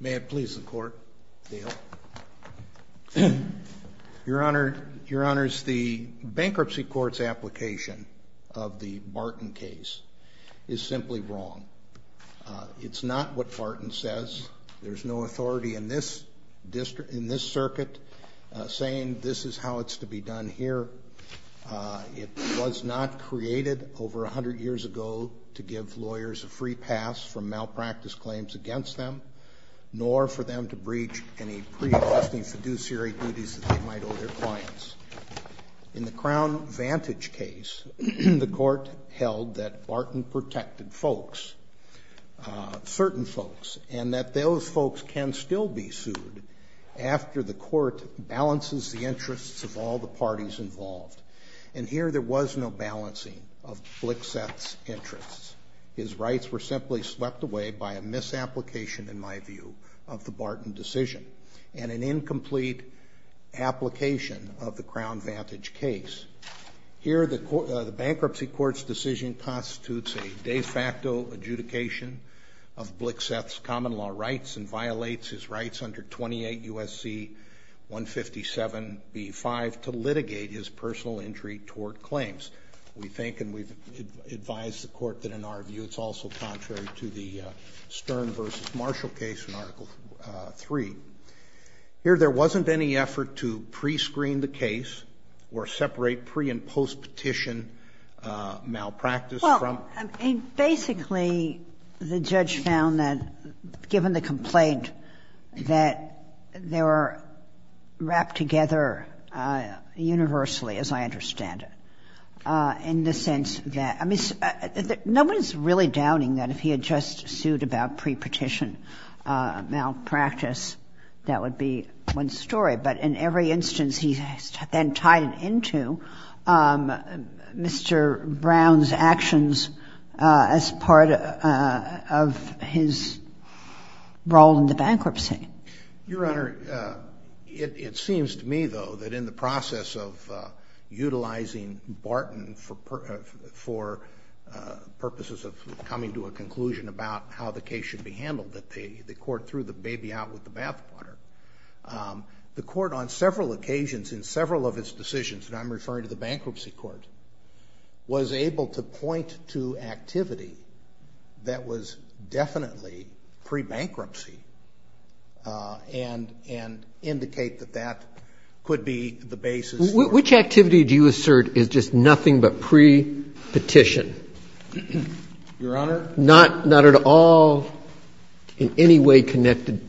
May it please the Court, Dale. Your Honor, Your Honor, the Bankruptcy Court's application of the Barton case is simply wrong. It's not what Barton says. There's no authority in this circuit saying this is how it's to be done here. It was not created over 100 years ago to give lawyers a free pass from malpractice claims against them, nor for them to breach any pre-existing fiduciary duties that they might owe their clients. In the Crown Vantage case, the Court held that Barton protected folks, certain folks, and that those folks can still be sued after the Court balances the interests of all the parties involved. And here there was no balancing of Blixseth's interests. His rights were simply swept away by a misapplication, in my view, of the Barton decision, and an incomplete application of the Crown Vantage case. Here the Bankruptcy Court's decision constitutes a de facto adjudication of Blixseth's common law rights and violates his rights under 28 U.S.C. 157b-5 to litigate his personal injury toward claims. We think and we've advised the Court that, in our view, it's also contrary to the Stern v. Marshall case in Article III. Here there wasn't any effort to pre-screen the case or separate pre- and post-petition malpractice from the case. Well, basically, the judge found that, given the complaint, that they were wrapped together universally, as I understand it, in the sense that — I mean, no one is really doubting that if he had just sued about pre-petition malpractice, that would be one story. But in every instance, he then tied it into Mr. Brown's actions as part of his role in the bankruptcy. Your Honor, it seems to me, though, that in the process of utilizing Barton for purposes of coming to a conclusion about how the case should be handled, that the Court threw the court on several occasions in several of its decisions, and I'm referring to the Bankruptcy Court, was able to point to activity that was definitely pre-bankruptcy and indicate that that could be the basis for — Which activity do you assert is just nothing but pre-petition? Your Honor — Not at all in any way connected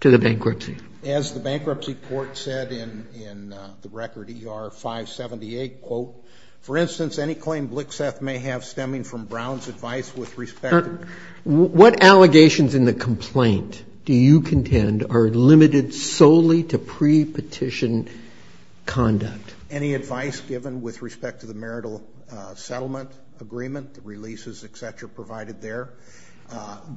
to the bankruptcy? As the Bankruptcy Court said in the record, ER-578, quote, for instance, any claim Blixeth may have stemming from Brown's advice with respect to — What allegations in the complaint do you contend are limited solely to pre-petition conduct? Any advice given with respect to the marital settlement agreement, the releases, et cetera, provided there,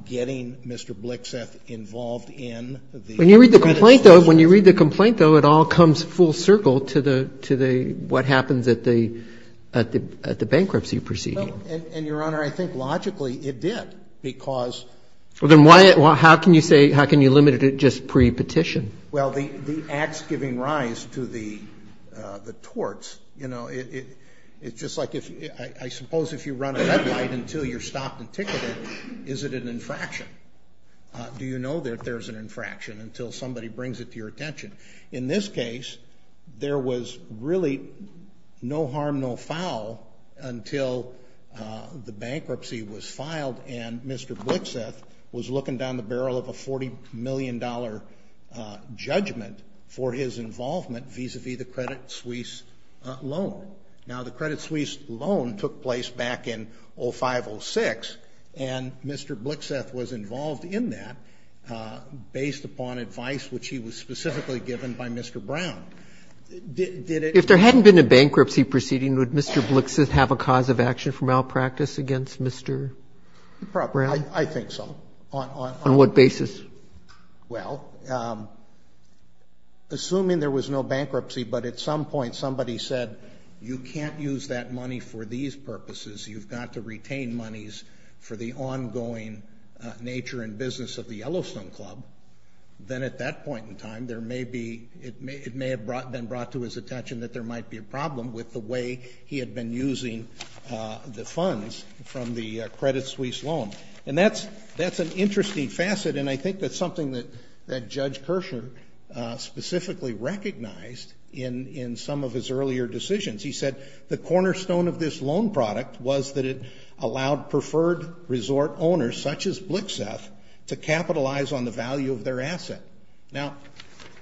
getting Mr. Blixeth involved in the — When you read the complaint, though, when you read the complaint, though, it all comes full circle to the — to the — what happens at the — at the bankruptcy proceeding. And, Your Honor, I think logically it did, because — Well, then why — how can you say — how can you limit it to just pre-petition? Well, the acts giving rise to the torts, you know, it's just like if — I suppose if you run a red light until you're stopped and ticketed, is it an infraction? Do you know that there's an infraction until somebody brings it to your attention? In this case, there was really no harm, no foul until the bankruptcy was filed and Mr. Blixeth was looking down the barrel of a $40 million judgment for his involvement vis-a-vis the Credit Suisse loan. Now, the Credit Suisse loan took place back in 05-06, and Mr. Blixeth was involved in that based upon advice which he was specifically given by Mr. Brown. Did it — If there hadn't been a bankruptcy proceeding, would Mr. Blixeth have a cause of action for malpractice against Mr. Brown? I think so. On what basis? Well, assuming there was no bankruptcy, but at some point somebody said, you can't use that money for these purposes, you've got to retain monies for the ongoing nature and business of the Yellowstone Club, then at that point in time, there may be — it may have been brought to his attention that there might be a problem with the way he had been using the funds from the Credit Suisse loan. And that's an interesting facet, and I think that's something that Judge Kirschner specifically recognized in some of his earlier decisions. He said the cornerstone of this loan product was that it allowed preferred resort owners, such as Blixeth, to capitalize on the value of their asset. Now,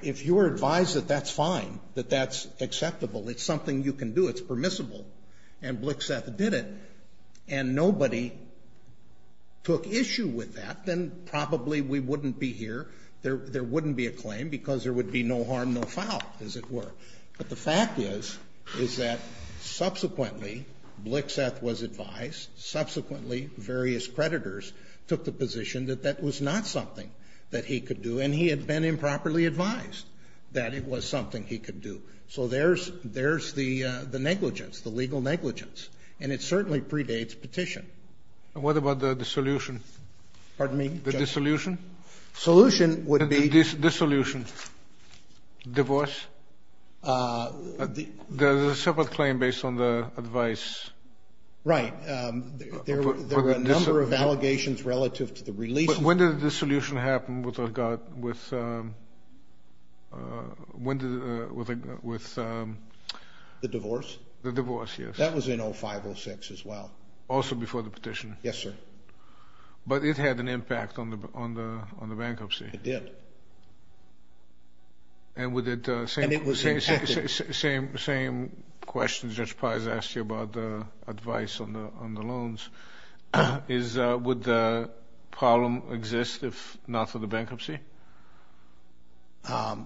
if you were advised that that's fine, that that's acceptable, it's something you can do, it's permissible, and Blixeth did it, and nobody took issue with that, then probably we wouldn't be here, there wouldn't be a claim, because there would be no harm, no foul, as it were. But the fact is, is that subsequently, Blixeth was advised, subsequently various creditors took the position that that was not something that he could do, and he had been improperly advised that it was something he could do. So there's the negligence, the legal negligence, and it certainly predates petition. And what about the dissolution? Pardon me? The dissolution? The solution would be... The dissolution. Divorce? There's a separate claim based on the advice. Right. There were a number of allegations relative to the release... When did the dissolution happen with regard... When did... The divorce? The divorce, yes. That was in 05, 06 as well. Also before the petition? Yes, sir. But it had an impact on the bankruptcy. It did. And would it... And it was impacted. Same question Judge Paz asked you about the advice on the loans, is would the problem exist if not for the bankruptcy?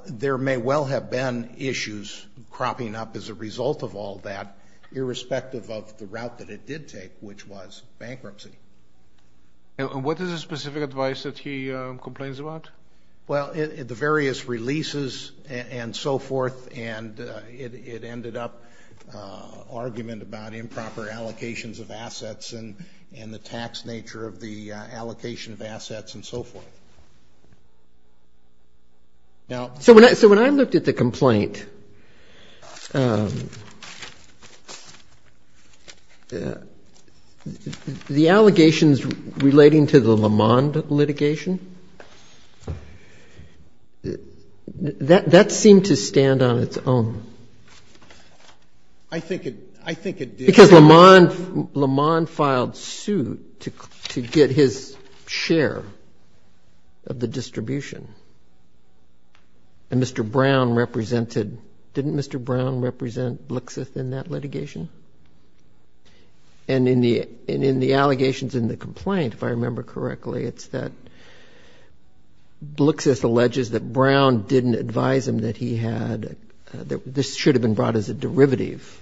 There may well have been issues cropping up as a result of all that, irrespective of the route that it did take, which was bankruptcy. And what is the specific advice that he complains about? Well, the various releases and so forth, and it ended up argument about improper allocations of assets and the tax nature of the allocation of assets and so forth. So when I looked at the complaint, the allegations relating to the Lamond litigation, that seemed to stand on its own. I think it did. Because Lamond filed suit to get his share of the distribution. And Mr. Brown represented... Didn't Mr. Brown represent Blixith in that litigation? And in the allegations in the complaint, if I remember correctly, it's that Blixith alleges that Brown didn't advise him that he had... That this should have been brought as a derivative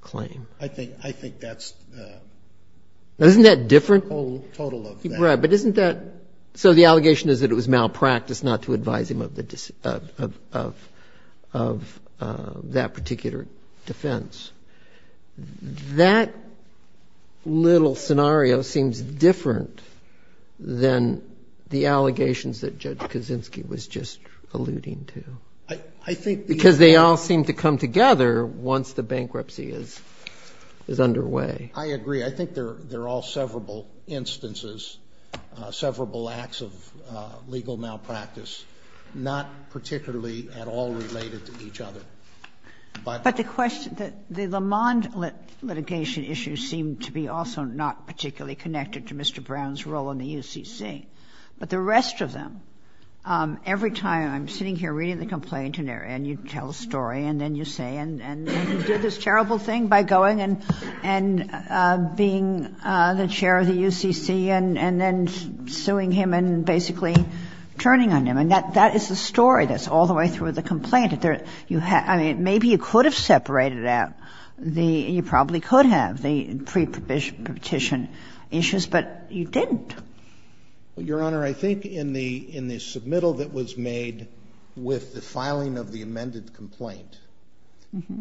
claim. I think that's... Isn't that different? A total of that. Right, but isn't that... So the allegation is that it was malpractice not to advise him of that particular defense. That little scenario seems different than the allegations that Judge Kaczynski was just alluding to. I think... Because they all seem to come together once the bankruptcy is underway. I agree. I think they're all severable instances, severable acts of legal malpractice, not particularly at all related to each other. But the question... The Lamond litigation issue seemed to be also not particularly connected to Mr. Brown's role in the UCC. But the rest of them... Every time I'm sitting here reading the complaint and you tell a story and then you say... And you did this terrible thing by going and being the chair of the UCC and then suing him and basically turning on him. And that is the story that's all the way through the complaint. Maybe you could have separated out the... You probably could have the pre-petition issues, but you didn't. Your Honor, I think in the submittal that was made with the filing of the amended complaint,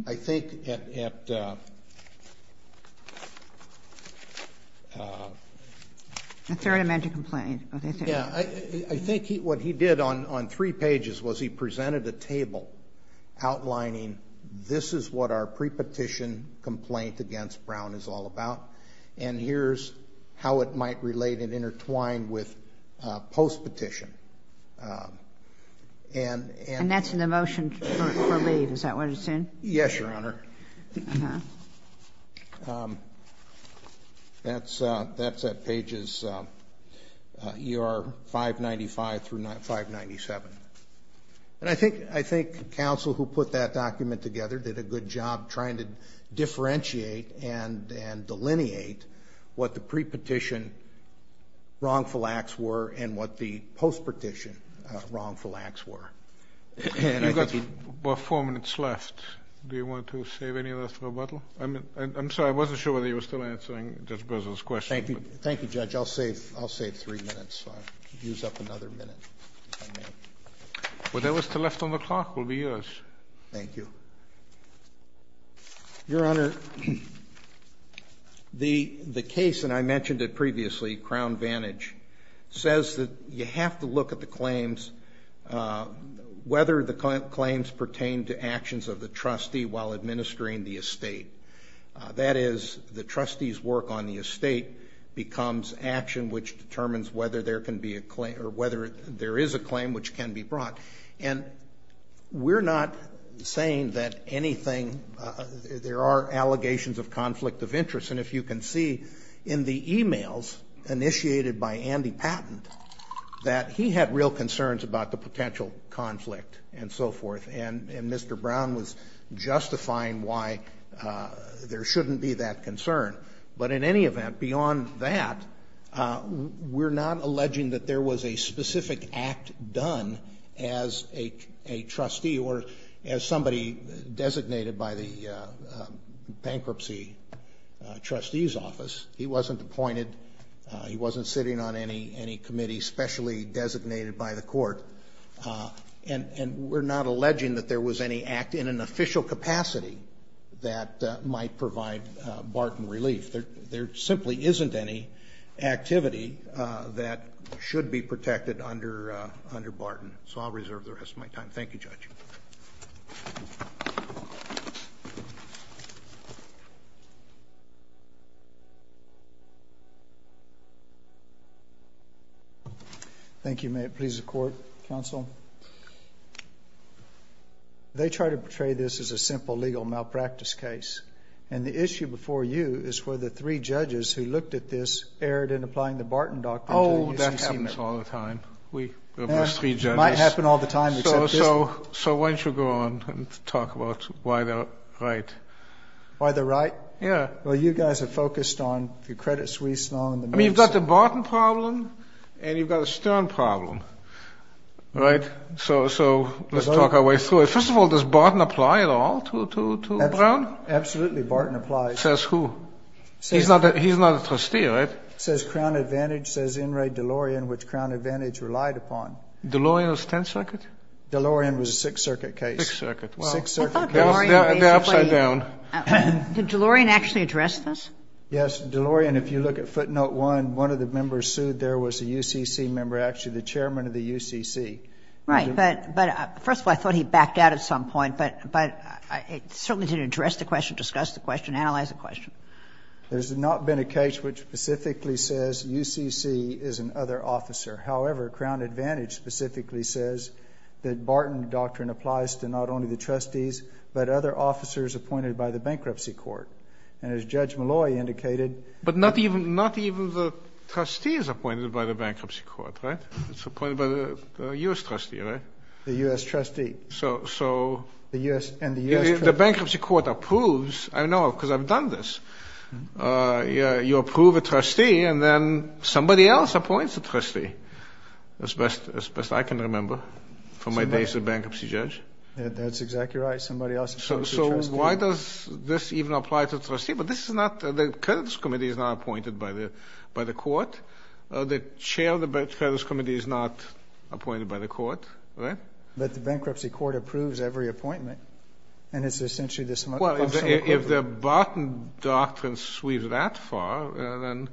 I think at... The third amended complaint. I think what he did on three pages was he presented a table outlining this is what our pre-petition complaint against Brown is all about and here's how it might relate and intertwine with post-petition. And that's in the motion for leave. Is that what it's in? Yes, Your Honor. That's at pages ER 595 through 597. And I think counsel who put that document together did a good job trying to differentiate and delineate what the pre-petition wrongful acts were and what the post-petition wrongful acts were. You've got about four minutes left. Do you want to say something? I'm sorry, I wasn't sure whether you were still answering Judge Bozo's question. Thank you, Judge. I'll save three minutes. I'll use up another minute, if I may. Well, there was still left on the clock. It will be yours. Thank you. Your Honor, the case, and I mentioned it previously, whether the claims pertain to actions of the trustee while administering the estate. That is, the trustee's work on the estate becomes action which determines whether there can be a claim, or whether there is a claim which can be brought. And we're not saying that anything, there are allegations of conflict of interest and if you can see in the emails initiated by Andy Patent that he had real concerns about the potential conflict and so forth and Mr. Brown was justifying why there shouldn't be that concern. But in any event, beyond that, we're not alleging that there was a specific act done as a trustee or as somebody designated by the bankruptcy trustee's office. He wasn't appointed. He wasn't sitting on any committee specially designated by the court. And we're not alleging that there was any act in an official capacity that might provide Barton relief. There simply isn't any activity that should be protected under Barton. So I'll reserve the rest of my time. Thank you, Judge. Thank you. May it please the court, counsel? They try to portray this as a simple legal malpractice case. And the issue before you is whether three judges who looked at this erred in applying the Barton doctrine to the SEC. Oh, that happens all the time. It might happen all the time. So why don't you go on and talk about why they're right. Why they're right? Well, you guys are focused on the Credit Suisse law. I mean, you've got the Barton problem and you've got a Stern problem. Right? So let's talk our way through it. First of all, does Barton apply at all to Brown? Absolutely, Barton applies. Says who? He's not a trustee, right? It says Crown Advantage says In re DeLorean, which Crown Advantage relied upon. DeLorean was 10th Circuit? DeLorean was a Sixth Circuit case. The upside down. Did DeLorean actually address this? Yes. DeLorean, if you look at footnote one, one of the members sued there was a UCC member, actually the chairman of the UCC. Right. But first of all, I thought he backed out at some point. But it certainly didn't address the question, discuss the question, analyze the question. There's not been a case which specifically says UCC is an other officer. However, Crown Advantage specifically says that Barton doctrine applies to not only the trustees, but other officers appointed by the bankruptcy court. And as Judge Malloy indicated. But not even the trustees appointed by the bankruptcy court, right? It's appointed by the U.S. trustee, right? The U.S. trustee. So the bankruptcy court approves. I know because I've done this. You approve a trustee and then somebody else appoints a trustee, as best I can remember from my days as a bankruptcy judge. That's exactly right. Somebody else appoints a trustee. So why does this even apply to a trustee? But this is not, the creditors committee is not appointed by the court. The chair of the creditors committee is not appointed by the court, right? But the bankruptcy court approves every appointment. And it's essentially this much. Well, if the Barton doctrine sweeps that far, then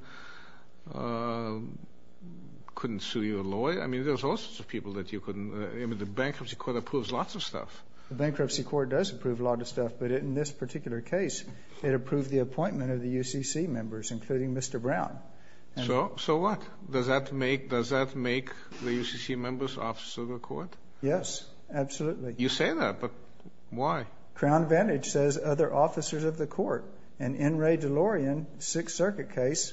couldn't sue you a lawyer? I mean, there's all sorts of people that you couldn't. I mean, the bankruptcy court approves lots of stuff. The bankruptcy court does approve a lot of stuff. But in this particular case, it approved the appointment of the UCC members, including Mr. Brown. So what? Does that make the UCC members officers of the court? Yes, absolutely. You say that, but why? Crown Advantage says other officers of the court. And N. Ray DeLorean, Sixth Circuit case,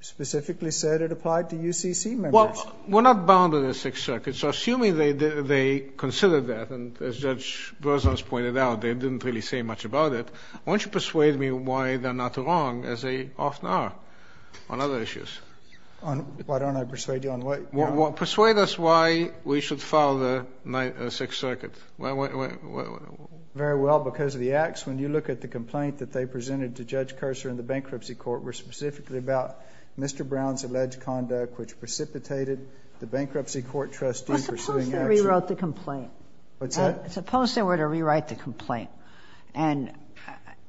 specifically said it applied to UCC members. Well, we're not bound to the Sixth Circuit, so assuming they considered that, and as Judge Berzons pointed out, they didn't really say much about it, why don't you persuade me why they're not wrong, as they often are on other issues? Why don't I persuade you on what? Persuade us why we should follow the Sixth Circuit. Why? Very well. Because of the acts. When you look at the complaint that they presented to Judge Curser in the bankruptcy court, were specifically about Mr. Brown's alleged conduct, which precipitated the bankruptcy court trustee pursuing action. Suppose they rewrote the complaint. What's that? Suppose they were to rewrite the complaint and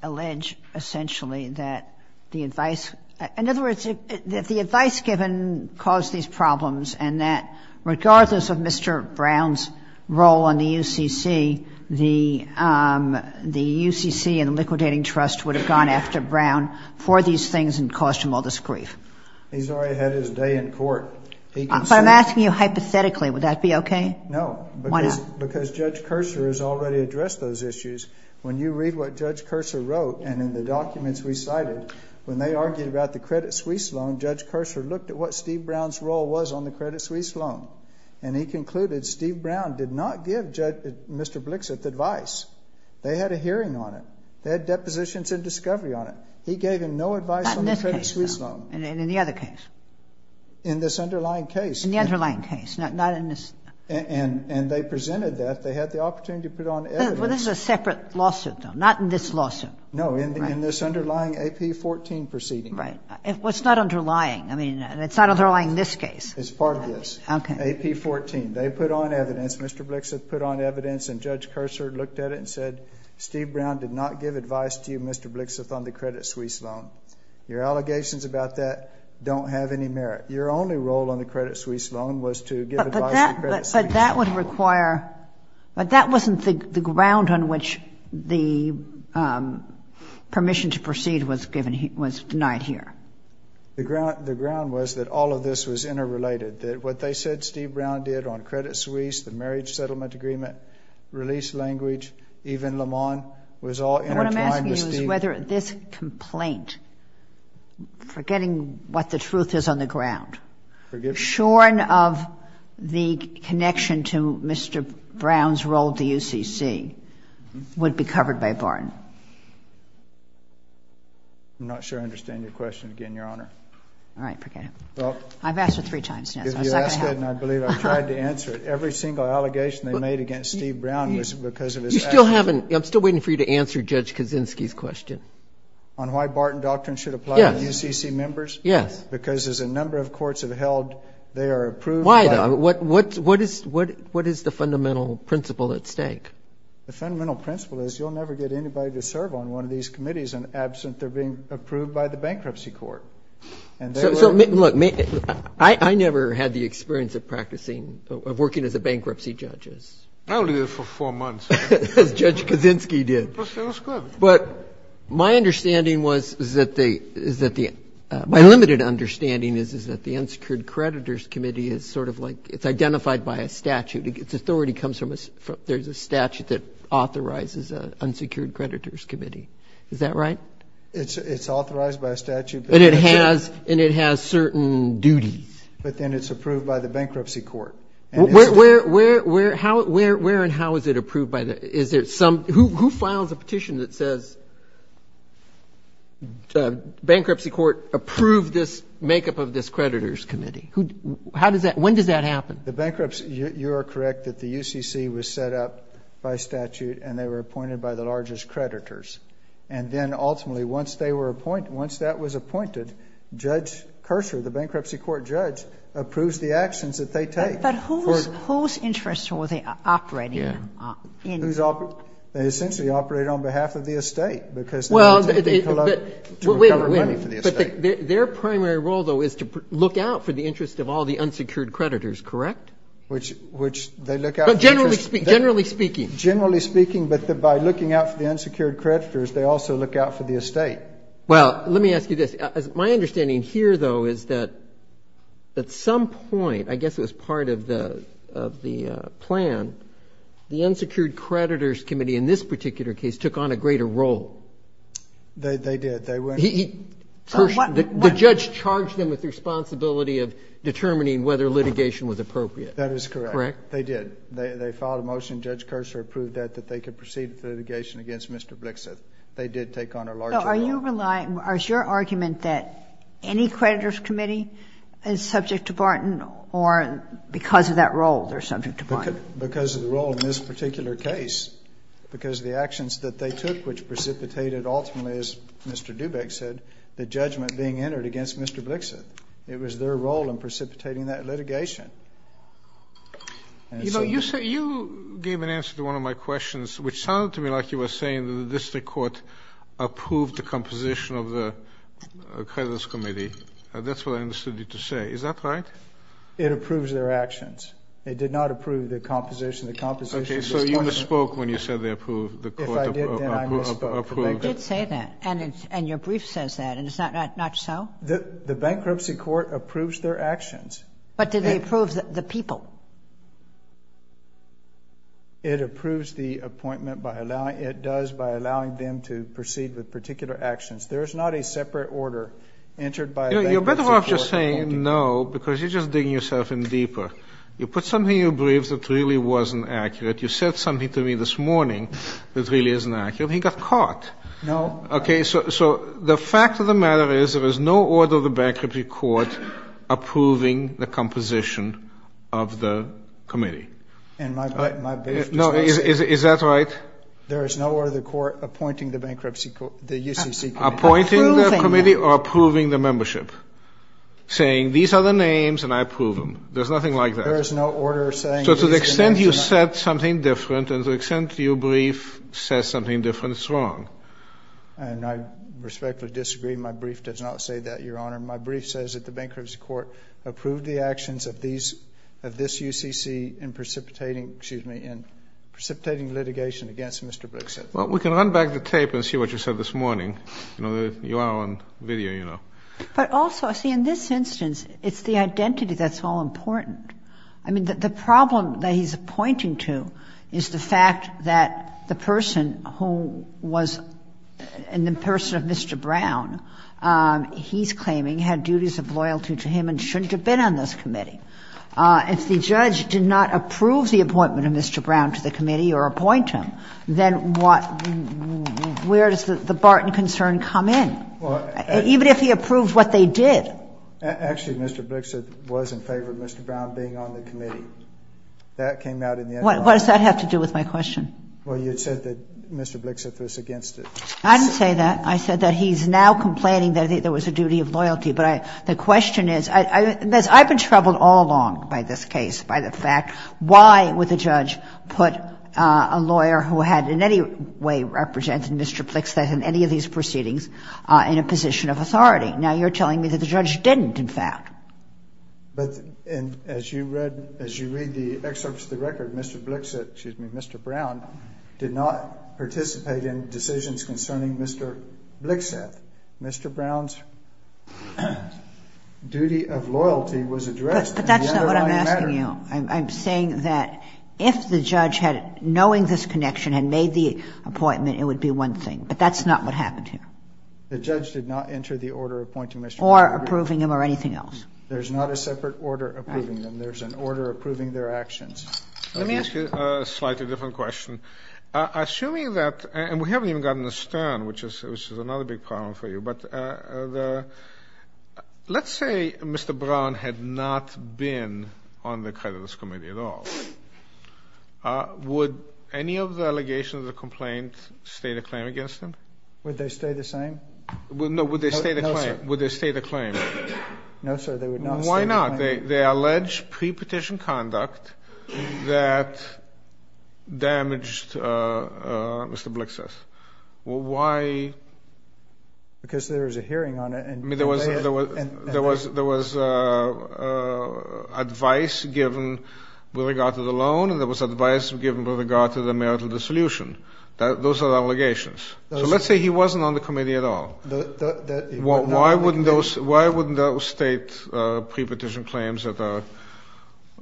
allege essentially that the advice given caused these problems, and that regardless of Mr. Brown's role on the UCC, the UCC and the liquidating trust would have gone after Brown for these things and caused him all this grief. He's already had his day in court. But I'm asking you hypothetically. Would that be okay? No. Why not? Because Judge Curser has already addressed those issues. When you read what Judge Curser wrote and in the documents we cited, when they argued about the Credit Suisse loan, Judge Curser looked at what Steve Brown's role was on the Credit Suisse loan, and he concluded Steve Brown did not give Mr. Blixit the advice. They had a hearing on it. They had depositions and discovery on it. He gave him no advice on the Credit Suisse loan. Not in this case, though, and in the other case. In this underlying case. In the underlying case, not in this. And they presented that. They had the opportunity to put on evidence. Well, this is a separate lawsuit, though, not in this lawsuit. No, in this underlying AP14 proceeding. Right. Well, it's not underlying. I mean, it's not underlying in this case. It's part of this. Okay. AP14. They put on evidence. Mr. Blixit put on evidence, and Judge Curser looked at it and said, Steve Brown did not give advice to you, Mr. Blixit, on the Credit Suisse loan. Your allegations about that don't have any merit. Your only role on the Credit Suisse loan was to give advice on the Credit Suisse loan. But that would require – but that wasn't the ground on which the permission to proceed was denied here. The ground was that all of this was interrelated, that what they said Steve Brown did on Credit Suisse, the marriage settlement agreement, release language, even Lamont, was all intertwined with Steve. What I'm asking you is whether this complaint, forgetting what the truth is on the ground, shorn of the connection to Mr. Brown's role at the UCC, would be covered by Barton. I'm not sure I understand your question again, Your Honor. All right. Forget it. I've asked it three times now, so it's not going to help. If you ask it, and I believe I've tried to answer it, every single allegation they made against Steve Brown was because of his actions. You still haven't – I'm still waiting for you to answer Judge Kaczynski's question. On why Barton Doctrine should apply to UCC members? Yes. Because as a number of courts have held, they are approved by – Why though? What is the fundamental principle at stake? The fundamental principle is you'll never get anybody to serve on one of these committees and absent they're being approved by the bankruptcy court. So, look, I never had the experience of practicing, of working as a bankruptcy judge. I only did it for four months. As Judge Kaczynski did. It was good. But my understanding was that the – is that the – my limited understanding is that the unsecured creditors committee is sort of like – it's identified by a statute. Its authority comes from – there's a statute that authorizes an unsecured creditors committee. Is that right? It's authorized by a statute. And it has certain duties. But then it's approved by the bankruptcy court. Where and how is it approved by the – is there some – who files a petition that says bankruptcy court approve this makeup of this creditors committee? How does that – when does that happen? The bankruptcy – you are correct that the UCC was set up by statute and they were appointed by the largest creditors. And then ultimately once they were appointed – once that was appointed, Judge Kerser, the bankruptcy court judge, approves the actions that they take. But whose interests were they operating in? They essentially operated on behalf of the estate because they were taking to recover money for the estate. Their primary role, though, is to look out for the interest of all the unsecured creditors, correct? Which they look out for the interest. Generally speaking. Generally speaking, but by looking out for the unsecured creditors, they also look out for the estate. Well, let me ask you this. My understanding here, though, is that at some point, I guess it was part of the plan, the unsecured creditors committee in this particular case took on a greater role. They did. They went – The judge charged them with the responsibility of determining whether litigation was appropriate. That is correct. Correct? They did. They filed a motion. Judge Kerser approved that, that they could proceed with litigation against Mr. Blixith. They did take on a larger role. So are you – is your argument that any creditors committee is subject to the role in this particular case? Because the actions that they took, which precipitated, ultimately, as Mr. Dubik said, the judgment being entered against Mr. Blixith. It was their role in precipitating that litigation. You gave an answer to one of my questions, which sounded to me like you were saying that the district court approved the composition of the creditors committee. That's what I understood you to say. Is that right? It approves their actions. It did not approve the composition of the – Okay. So you misspoke when you said they approved. If I did, then I misspoke. They did say that. And your brief says that. And it's not so? The bankruptcy court approves their actions. But do they approve the people? It approves the appointment by allowing – it does by allowing them to proceed with particular actions. There is not a separate order entered by a bankruptcy court. You know, you're better off just saying no because you're just digging yourself in deeper. You put something in your brief that really wasn't accurate. You said something to me this morning that really isn't accurate. He got caught. No. Okay. So the fact of the matter is there is no order of the bankruptcy court approving the composition of the committee. And my brief was – No. Is that right? There is no order of the court appointing the bankruptcy – the UCC committee. Approving them. Saying these are the names and I approve them. There's nothing like that. There is no order of saying – So to the extent you said something different and to the extent your brief says something different, it's wrong. And I respectfully disagree. My brief does not say that, Your Honor. My brief says that the bankruptcy court approved the actions of these – of this UCC in precipitating – excuse me – in precipitating litigation against Mr. Brickson. Well, we can run back the tape and see what you said this morning. You know, you are on video, you know. But also, see, in this instance, it's the identity that's all important. I mean, the problem that he's pointing to is the fact that the person who was – and the person of Mr. Brown, he's claiming had duties of loyalty to him and shouldn't have been on this committee. If the judge did not approve the appointment of Mr. Brown to the committee or appoint him, then what – where does the Barton concern come in? Even if he approved what they did. Actually, Mr. Brickson was in favor of Mr. Brown being on the committee. That came out in the – What does that have to do with my question? Well, you said that Mr. Brickson was against it. I didn't say that. I said that he's now complaining that there was a duty of loyalty. But the question is – I've been troubled all along by this case, by the fact why would the judge put a lawyer who had in any way represented Mr. Brickson in any of these proceedings in a position of authority? Now you're telling me that the judge didn't, in fact. But as you read – as you read the excerpts of the record, Mr. Blixet – excuse me, Mr. Brown did not participate in decisions concerning Mr. Blixet. Mr. Brown's duty of loyalty was addressed in the underlying matter. But that's not what I'm asking you. I'm saying that if the judge had – knowing this connection, had made the appointment, it would be one thing. But that's not what happened here. The judge did not enter the order appointing Mr. Brickson. Or approving him or anything else. There's not a separate order approving them. There's an order approving their actions. Let me ask you a slightly different question. Assuming that – and we haven't even gotten to Stern, which is another big problem for you. But let's say Mr. Brown had not been on the creditors' committee at all. Would any of the allegations of the complaint stay the claim against him? Would they stay the same? No. Would they stay the claim? No, sir. Would they stay the claim? No, sir. They would not stay the claim. Why not? They allege pre-petition conduct that damaged Mr. Blixet. Why? Because there was a hearing on it. I mean, there was advice given with regard to the loan. And there was advice given with regard to the marital dissolution. Those are allegations. So let's say he wasn't on the committee at all. Why wouldn't those state pre-petition claims that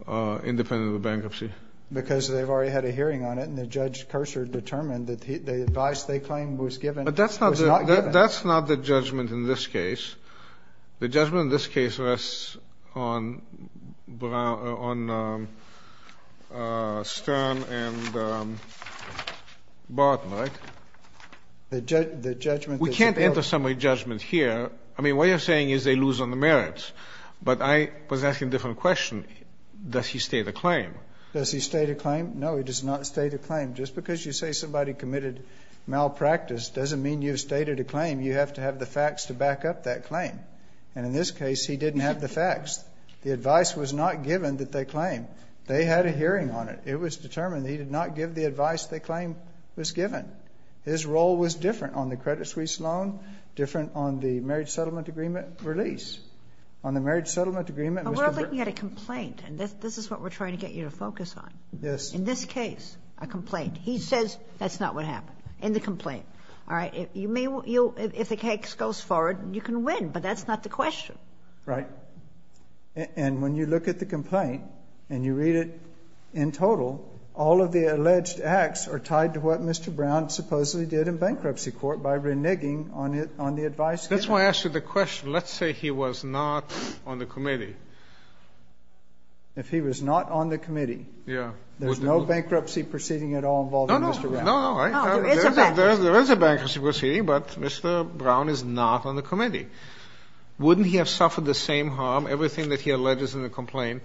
are independent of the bankruptcy? Because they've already had a hearing on it. And the judge, Curser, determined that the advice they claimed was given was not given. But that's not the judgment in this case. The judgment in this case rests on Stern and Barton, right? The judgment is available. We can't enter somebody's judgment here. I mean, what you're saying is they lose on the merits. But I was asking a different question. Does he stay the claim? Does he stay the claim? No, he does not stay the claim. Just because you say somebody committed malpractice doesn't mean you've stayed at a claim. You have to have the facts to back up that claim. And in this case, he didn't have the facts. The advice was not given that they claimed. They had a hearing on it. It was determined that he did not give the advice they claimed was given. His role was different on the Credit Suisse loan, different on the marriage settlement agreement release. On the marriage settlement agreement, Mr. Burton. We're looking at a complaint, and this is what we're trying to get you to focus on. Yes. In this case, a complaint. He says that's not what happened. In the complaint. All right. If the case goes forward, you can win. But that's not the question. Right. And when you look at the complaint and you read it in total, all of the alleged acts are tied to what Mr. Brown supposedly did in bankruptcy court by reneging on the advice given. That's why I asked you the question. Let's say he was not on the committee. If he was not on the committee. Yes. There's no bankruptcy proceeding at all involved in Mr. Brown. No, no. There is a bankruptcy proceeding, but Mr. Brown is not on the committee. Wouldn't he have suffered the same harm, everything that he alleged is in the complaint?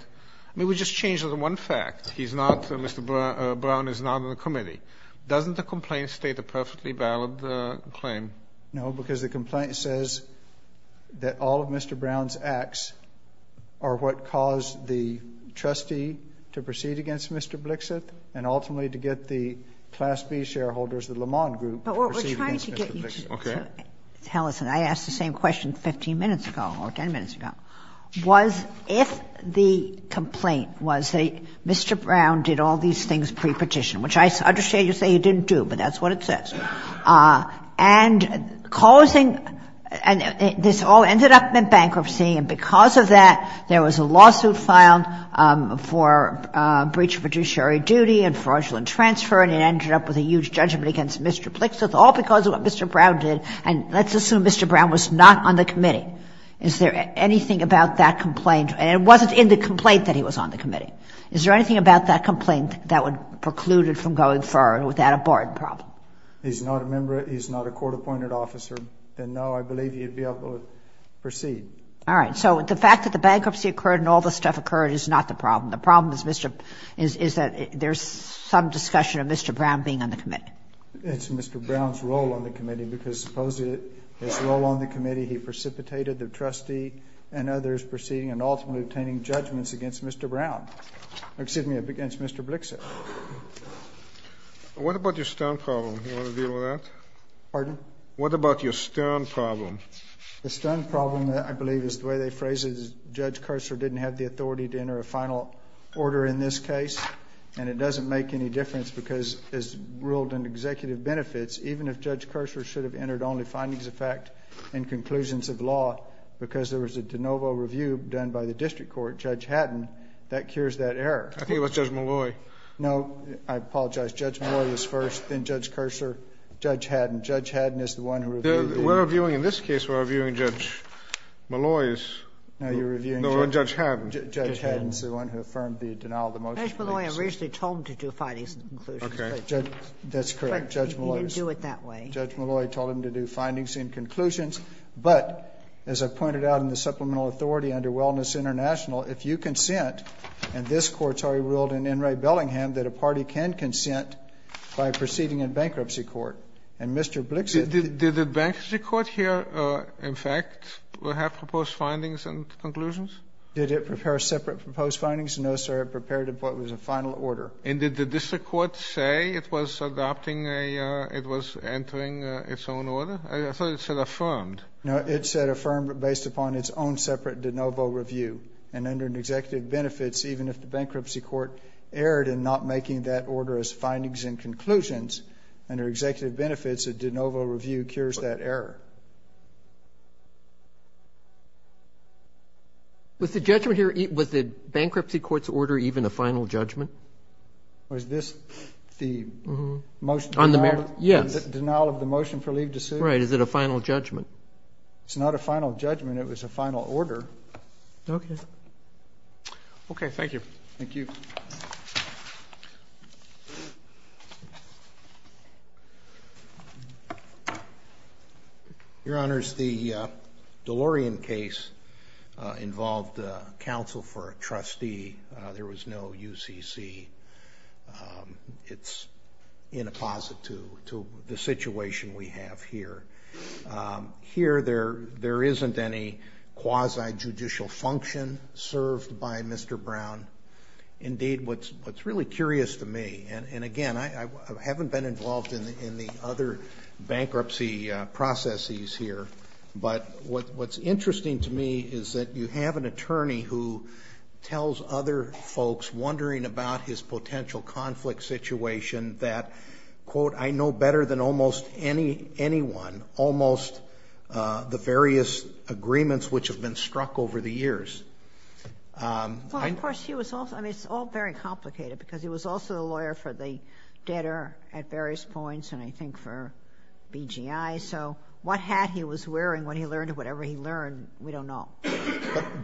I mean, we just changed one fact. He's not, Mr. Brown is not on the committee. Doesn't the complaint state a perfectly valid claim? No, because the complaint says that all of Mr. Brown's acts are what caused the bankruptcy of Mr. Blixit and ultimately to get the Class B shareholders, the Lamond Group, to proceed against Mr. Blixit. Okay. But what we're trying to get you to tell us, and I asked the same question 15 minutes ago or 10 minutes ago, was if the complaint was that Mr. Brown did all these things pre-petition, which I understand you say he didn't do, but that's what it says, and causing this all ended up in bankruptcy, and because of that, there was a lawsuit filed for breach of judiciary duty and fraudulent transfer, and it ended up with a huge judgment against Mr. Blixit, all because of what Mr. Brown did. And let's assume Mr. Brown was not on the committee. Is there anything about that complaint? And it wasn't in the complaint that he was on the committee. Is there anything about that complaint that would preclude it from going forward without a barred problem? He's not a member of the – he's not a court-appointed officer, and no, I believe he would be able to proceed. All right. So the fact that the bankruptcy occurred and all this stuff occurred is not the problem. The problem is Mr. – is that there's some discussion of Mr. Brown being on the committee. It's Mr. Brown's role on the committee, because supposedly his role on the committee he precipitated the trustee and others proceeding and ultimately obtaining judgments against Mr. Brown – excuse me, against Mr. Blixit. What about your Stern problem? Do you want to deal with that? Pardon? What about your Stern problem? The Stern problem, I believe, is the way they phrase it is Judge Curser didn't have the authority to enter a final order in this case, and it doesn't make any difference because, as ruled in executive benefits, even if Judge Curser should have entered only findings of fact and conclusions of law because there was a de novo review done by the district court, Judge Haddon, that cures that error. I think it was Judge Molloy. No, I apologize. Judge Molloy was first, then Judge Curser, Judge Haddon. Judge Haddon is the one who reviewed it. We're reviewing, in this case, we're reviewing Judge Molloy's. No, you're reviewing Judge Haddon's. Judge Haddon is the one who affirmed the denial of the motion. Judge Molloy originally told him to do findings and conclusions. Okay. That's correct, Judge Molloy. But he didn't do it that way. Judge Molloy told him to do findings and conclusions. But, as I pointed out in the supplemental authority under Wellness International, if you consent, and this Court's already ruled in N. Ray Bellingham that a party can consent by proceeding in bankruptcy court, and Mr. Blixit – Did the bankruptcy court here, in fact, have proposed findings and conclusions? Did it prepare separate proposed findings? No, sir. It prepared what was a final order. And did the district court say it was adopting a – it was entering its own order? I thought it said affirmed. No, it said affirmed based upon its own separate de novo review. And under an executive benefits, even if the bankruptcy court erred in not making that order as findings and conclusions, under executive benefits, a de novo review cures that error. Was the judgment here – was the bankruptcy court's order even a final judgment? Was this the most – Yes. Denial of the motion for leave to sue? Right. Is it a final judgment? It's not a final judgment. It was a final order. Okay. Okay. Thank you. Thank you. Thank you. Your Honors, the DeLorean case involved counsel for a trustee. There was no UCC. It's in apposite to the situation we have here. Here, there isn't any quasi-judicial function served by Mr. Brown. Indeed, what's really curious to me, and again, I haven't been involved in the other bankruptcy processes here, but what's interesting to me is that you have an attorney who tells other folks, wondering about his potential conflict situation, that, quote, I know better than almost anyone almost the various agreements which have been struck over the years. Well, of course, he was also – I mean, it's all very complicated, because he was also a lawyer for the debtor at various points, and I think for BGI. So what hat he was wearing when he learned whatever he learned, we don't know.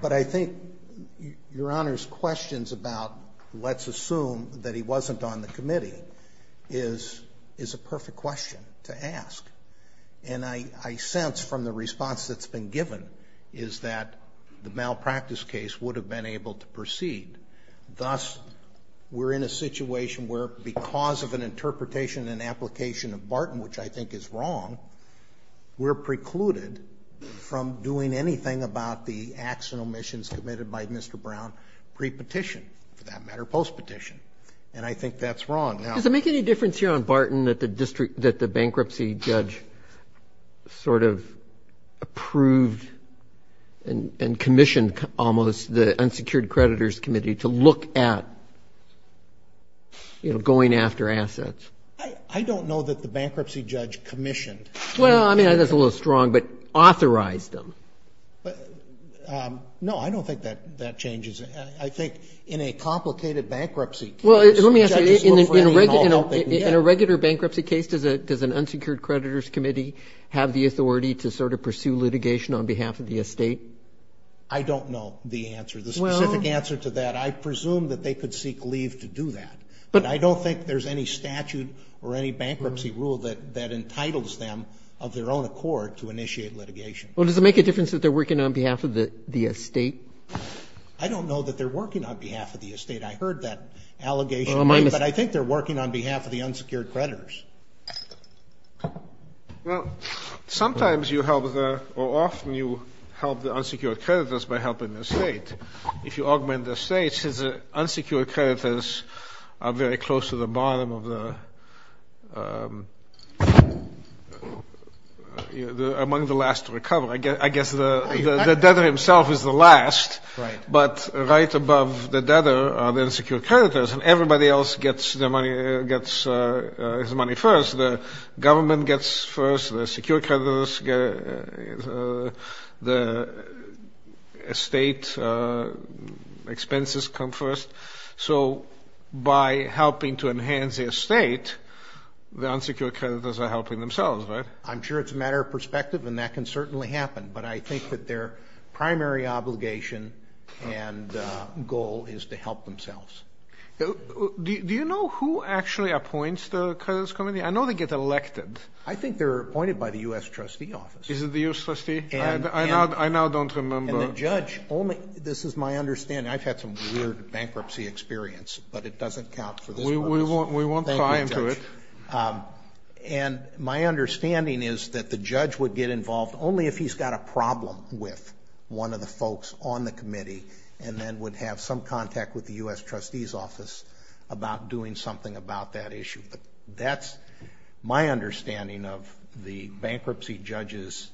But I think Your Honors' questions about let's assume that he wasn't on the committee is a perfect question to ask. And I sense from the response that's been given is that the malpractice case would have been able to proceed. Thus, we're in a situation where because of an interpretation and application of Barton, which I think is wrong, we're precluded from doing anything about the acts and omissions committed by Mr. Brown pre-petition, for that matter, post-petition. And I think that's wrong. Does it make any difference here on Barton that the bankruptcy judge sort of approved and commissioned almost the unsecured creditors committee to look at, you know, going after assets? I don't know that the bankruptcy judge commissioned. Well, I mean, that's a little strong, but authorized them. No, I don't think that changes. I think in a complicated bankruptcy case, judges look for any involvement. Well, let me ask you, in a regular bankruptcy case, does an unsecured creditors committee have the authority to sort of pursue litigation on behalf of the estate? I don't know the answer, the specific answer to that. I presume that they could seek leave to do that. But I don't think there's any statute or any bankruptcy rule that entitles them of their own accord to initiate litigation. Well, does it make a difference that they're working on behalf of the estate? I don't know that they're working on behalf of the estate. I heard that allegation, but I think they're working on behalf of the unsecured creditors. Well, sometimes you help the or often you help the unsecured creditors by helping the estate. If you augment the estate, the unsecured creditors are very close to the bottom of the, among the last to recover. I guess the debtor himself is the last. Right. But right above the debtor are the unsecured creditors, and everybody else gets their money, gets his money first. The government gets first, the secured creditors get, the estate expenses come first. So by helping to enhance the estate, the unsecured creditors are helping themselves, right? I'm sure it's a matter of perspective, and that can certainly happen. But I think that their primary obligation and goal is to help themselves. Do you know who actually appoints the creditors committee? I know they get elected. I think they're appointed by the U.S. trustee office. Is it the U.S. trustee? I now don't remember. And the judge only, this is my understanding, I've had some weird bankruptcy experience, but it doesn't count for this purpose. We won't pry into it. And my understanding is that the judge would get involved only if he's got a problem with one of the folks on the committee, and then would have some contact with the U.S. trustee's office about doing something about that issue. But that's my understanding of the bankruptcy judge's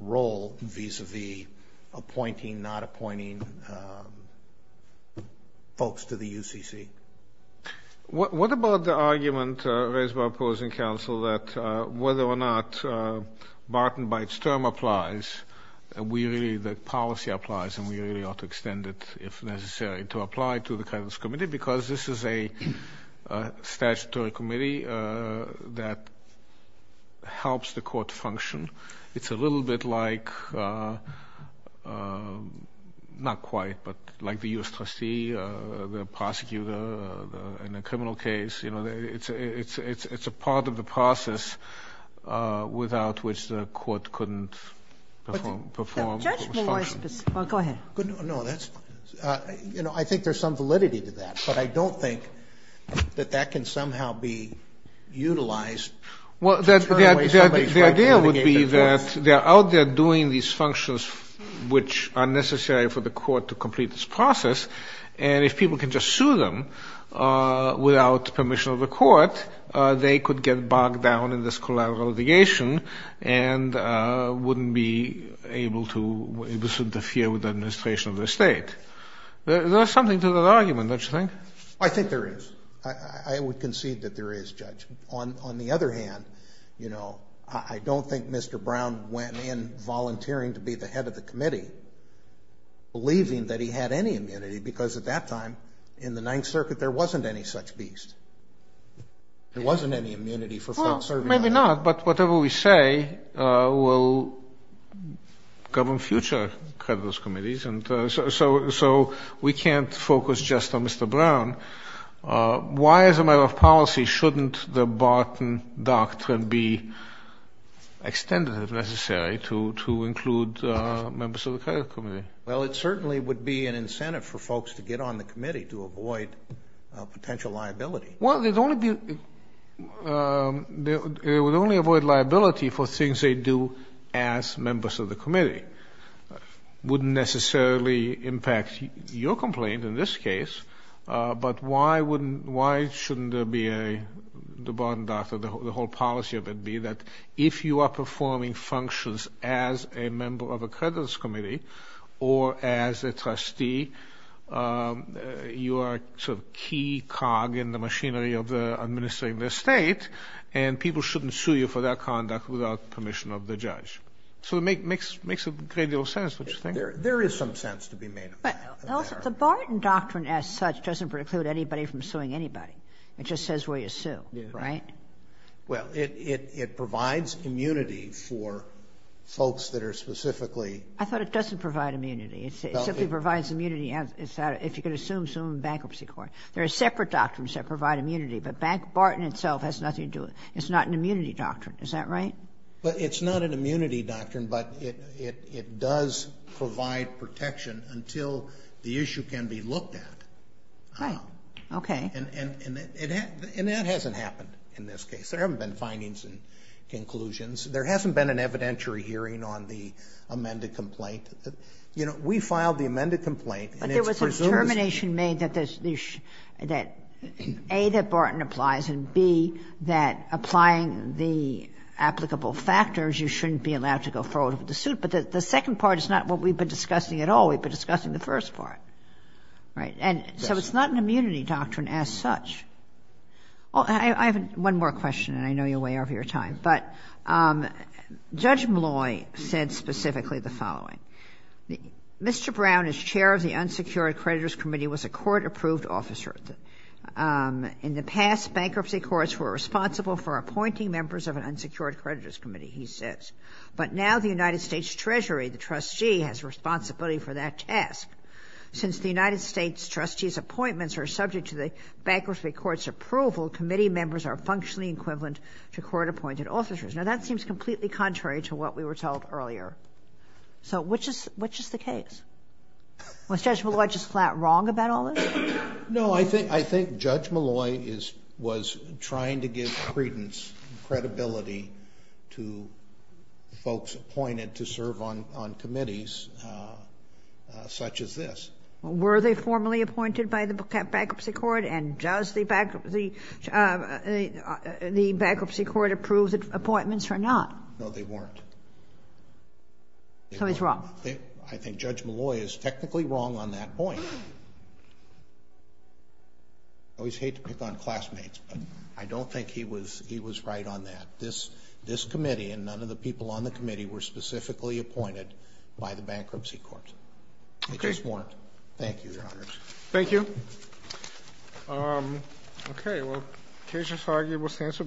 role vis-à-vis appointing, not appointing folks to the UCC. What about the argument raised by opposing counsel that whether or not Barton, by its term, applies, that policy applies and we really ought to extend it if necessary to apply to the creditors committee, because this is a statutory committee that helps the court function. It's a little bit like, not quite, but like the U.S. trustee, the prosecutor in a criminal case. It's a part of the process without which the court couldn't perform its function. Go ahead. No, that's, you know, I think there's some validity to that, but I don't think that that can somehow be utilized. The idea would be that they're out there doing these functions which are necessary for the court to complete this process, and if people can just sue them without permission of the court, they could get bogged down in this collateral litigation and wouldn't be able to interfere with the administration of the state. There's something to that argument, don't you think? I think there is. I would concede that there is, Judge. On the other hand, you know, I don't think Mr. Brown went in volunteering to be the head of the committee, believing that he had any immunity, because at that time in the Ninth Circuit there wasn't any such beast. There wasn't any immunity for folks serving on that committee. Well, maybe not, but whatever we say will govern future creditors' committees, and so we can't focus just on Mr. Brown. Why, as a matter of policy, shouldn't the Barton Doctrine be extended, if necessary, to include members of the credit committee? Well, it certainly would be an incentive for folks to get on the committee to avoid potential liability. Well, it would only avoid liability for things they do as members of the committee. It wouldn't necessarily impact your complaint in this case, but why shouldn't the Barton Doctrine, the whole policy of it, be that if you are performing functions as a member of a creditors' committee, or as a trustee, you are sort of a key cog in the machinery of administering the state, and people shouldn't sue you for that conduct without permission of the judge. So it makes a great deal of sense, don't you think? There is some sense to be made of that. But the Barton Doctrine, as such, doesn't preclude anybody from suing anybody. It just says where you sue, right? Well, it provides immunity for folks that are specifically... I thought it doesn't provide immunity. It simply provides immunity if you can assume a bankruptcy court. There are separate doctrines that provide immunity, but Barton itself has nothing to do with it. It's not an immunity doctrine. Is that right? But it's not an immunity doctrine, but it does provide protection until the issue can be looked at. Right. Okay. And that hasn't happened in this case. There haven't been findings and conclusions. There hasn't been an evidentiary hearing on the amended complaint. You know, we filed the amended complaint, and it's presumed... you shouldn't be allowed to go forward with the suit. But the second part is not what we've been discussing at all. We've been discussing the first part, right? And so it's not an immunity doctrine as such. I have one more question, and I know you'll weigh over your time. But Judge Molloy said specifically the following. Mr. Brown, as chair of the Unsecured Creditors Committee, was a court-approved officer. In the past, bankruptcy courts were responsible for appointing members of an unsecured creditors committee, he says. But now the United States Treasury, the trustee, has responsibility for that task. Since the United States trustee's appointments are subject to the bankruptcy court's approval, committee members are functionally equivalent to court-appointed officers. Now, that seems completely contrary to what we were told earlier. So which is the case? Was Judge Molloy just flat wrong about all this? No, I think Judge Molloy was trying to give credence, credibility, to folks appointed to serve on committees such as this. Were they formally appointed by the bankruptcy court? And does the bankruptcy court approve appointments or not? No, they weren't. So he's wrong. I think Judge Molloy is technically wrong on that point. I always hate to pick on classmates, but I don't think he was right on that. This committee and none of the people on the committee were specifically appointed by the bankruptcy court. They just weren't. Thank you, Your Honors. Thank you. Okay, well, the case of Foggy was answered.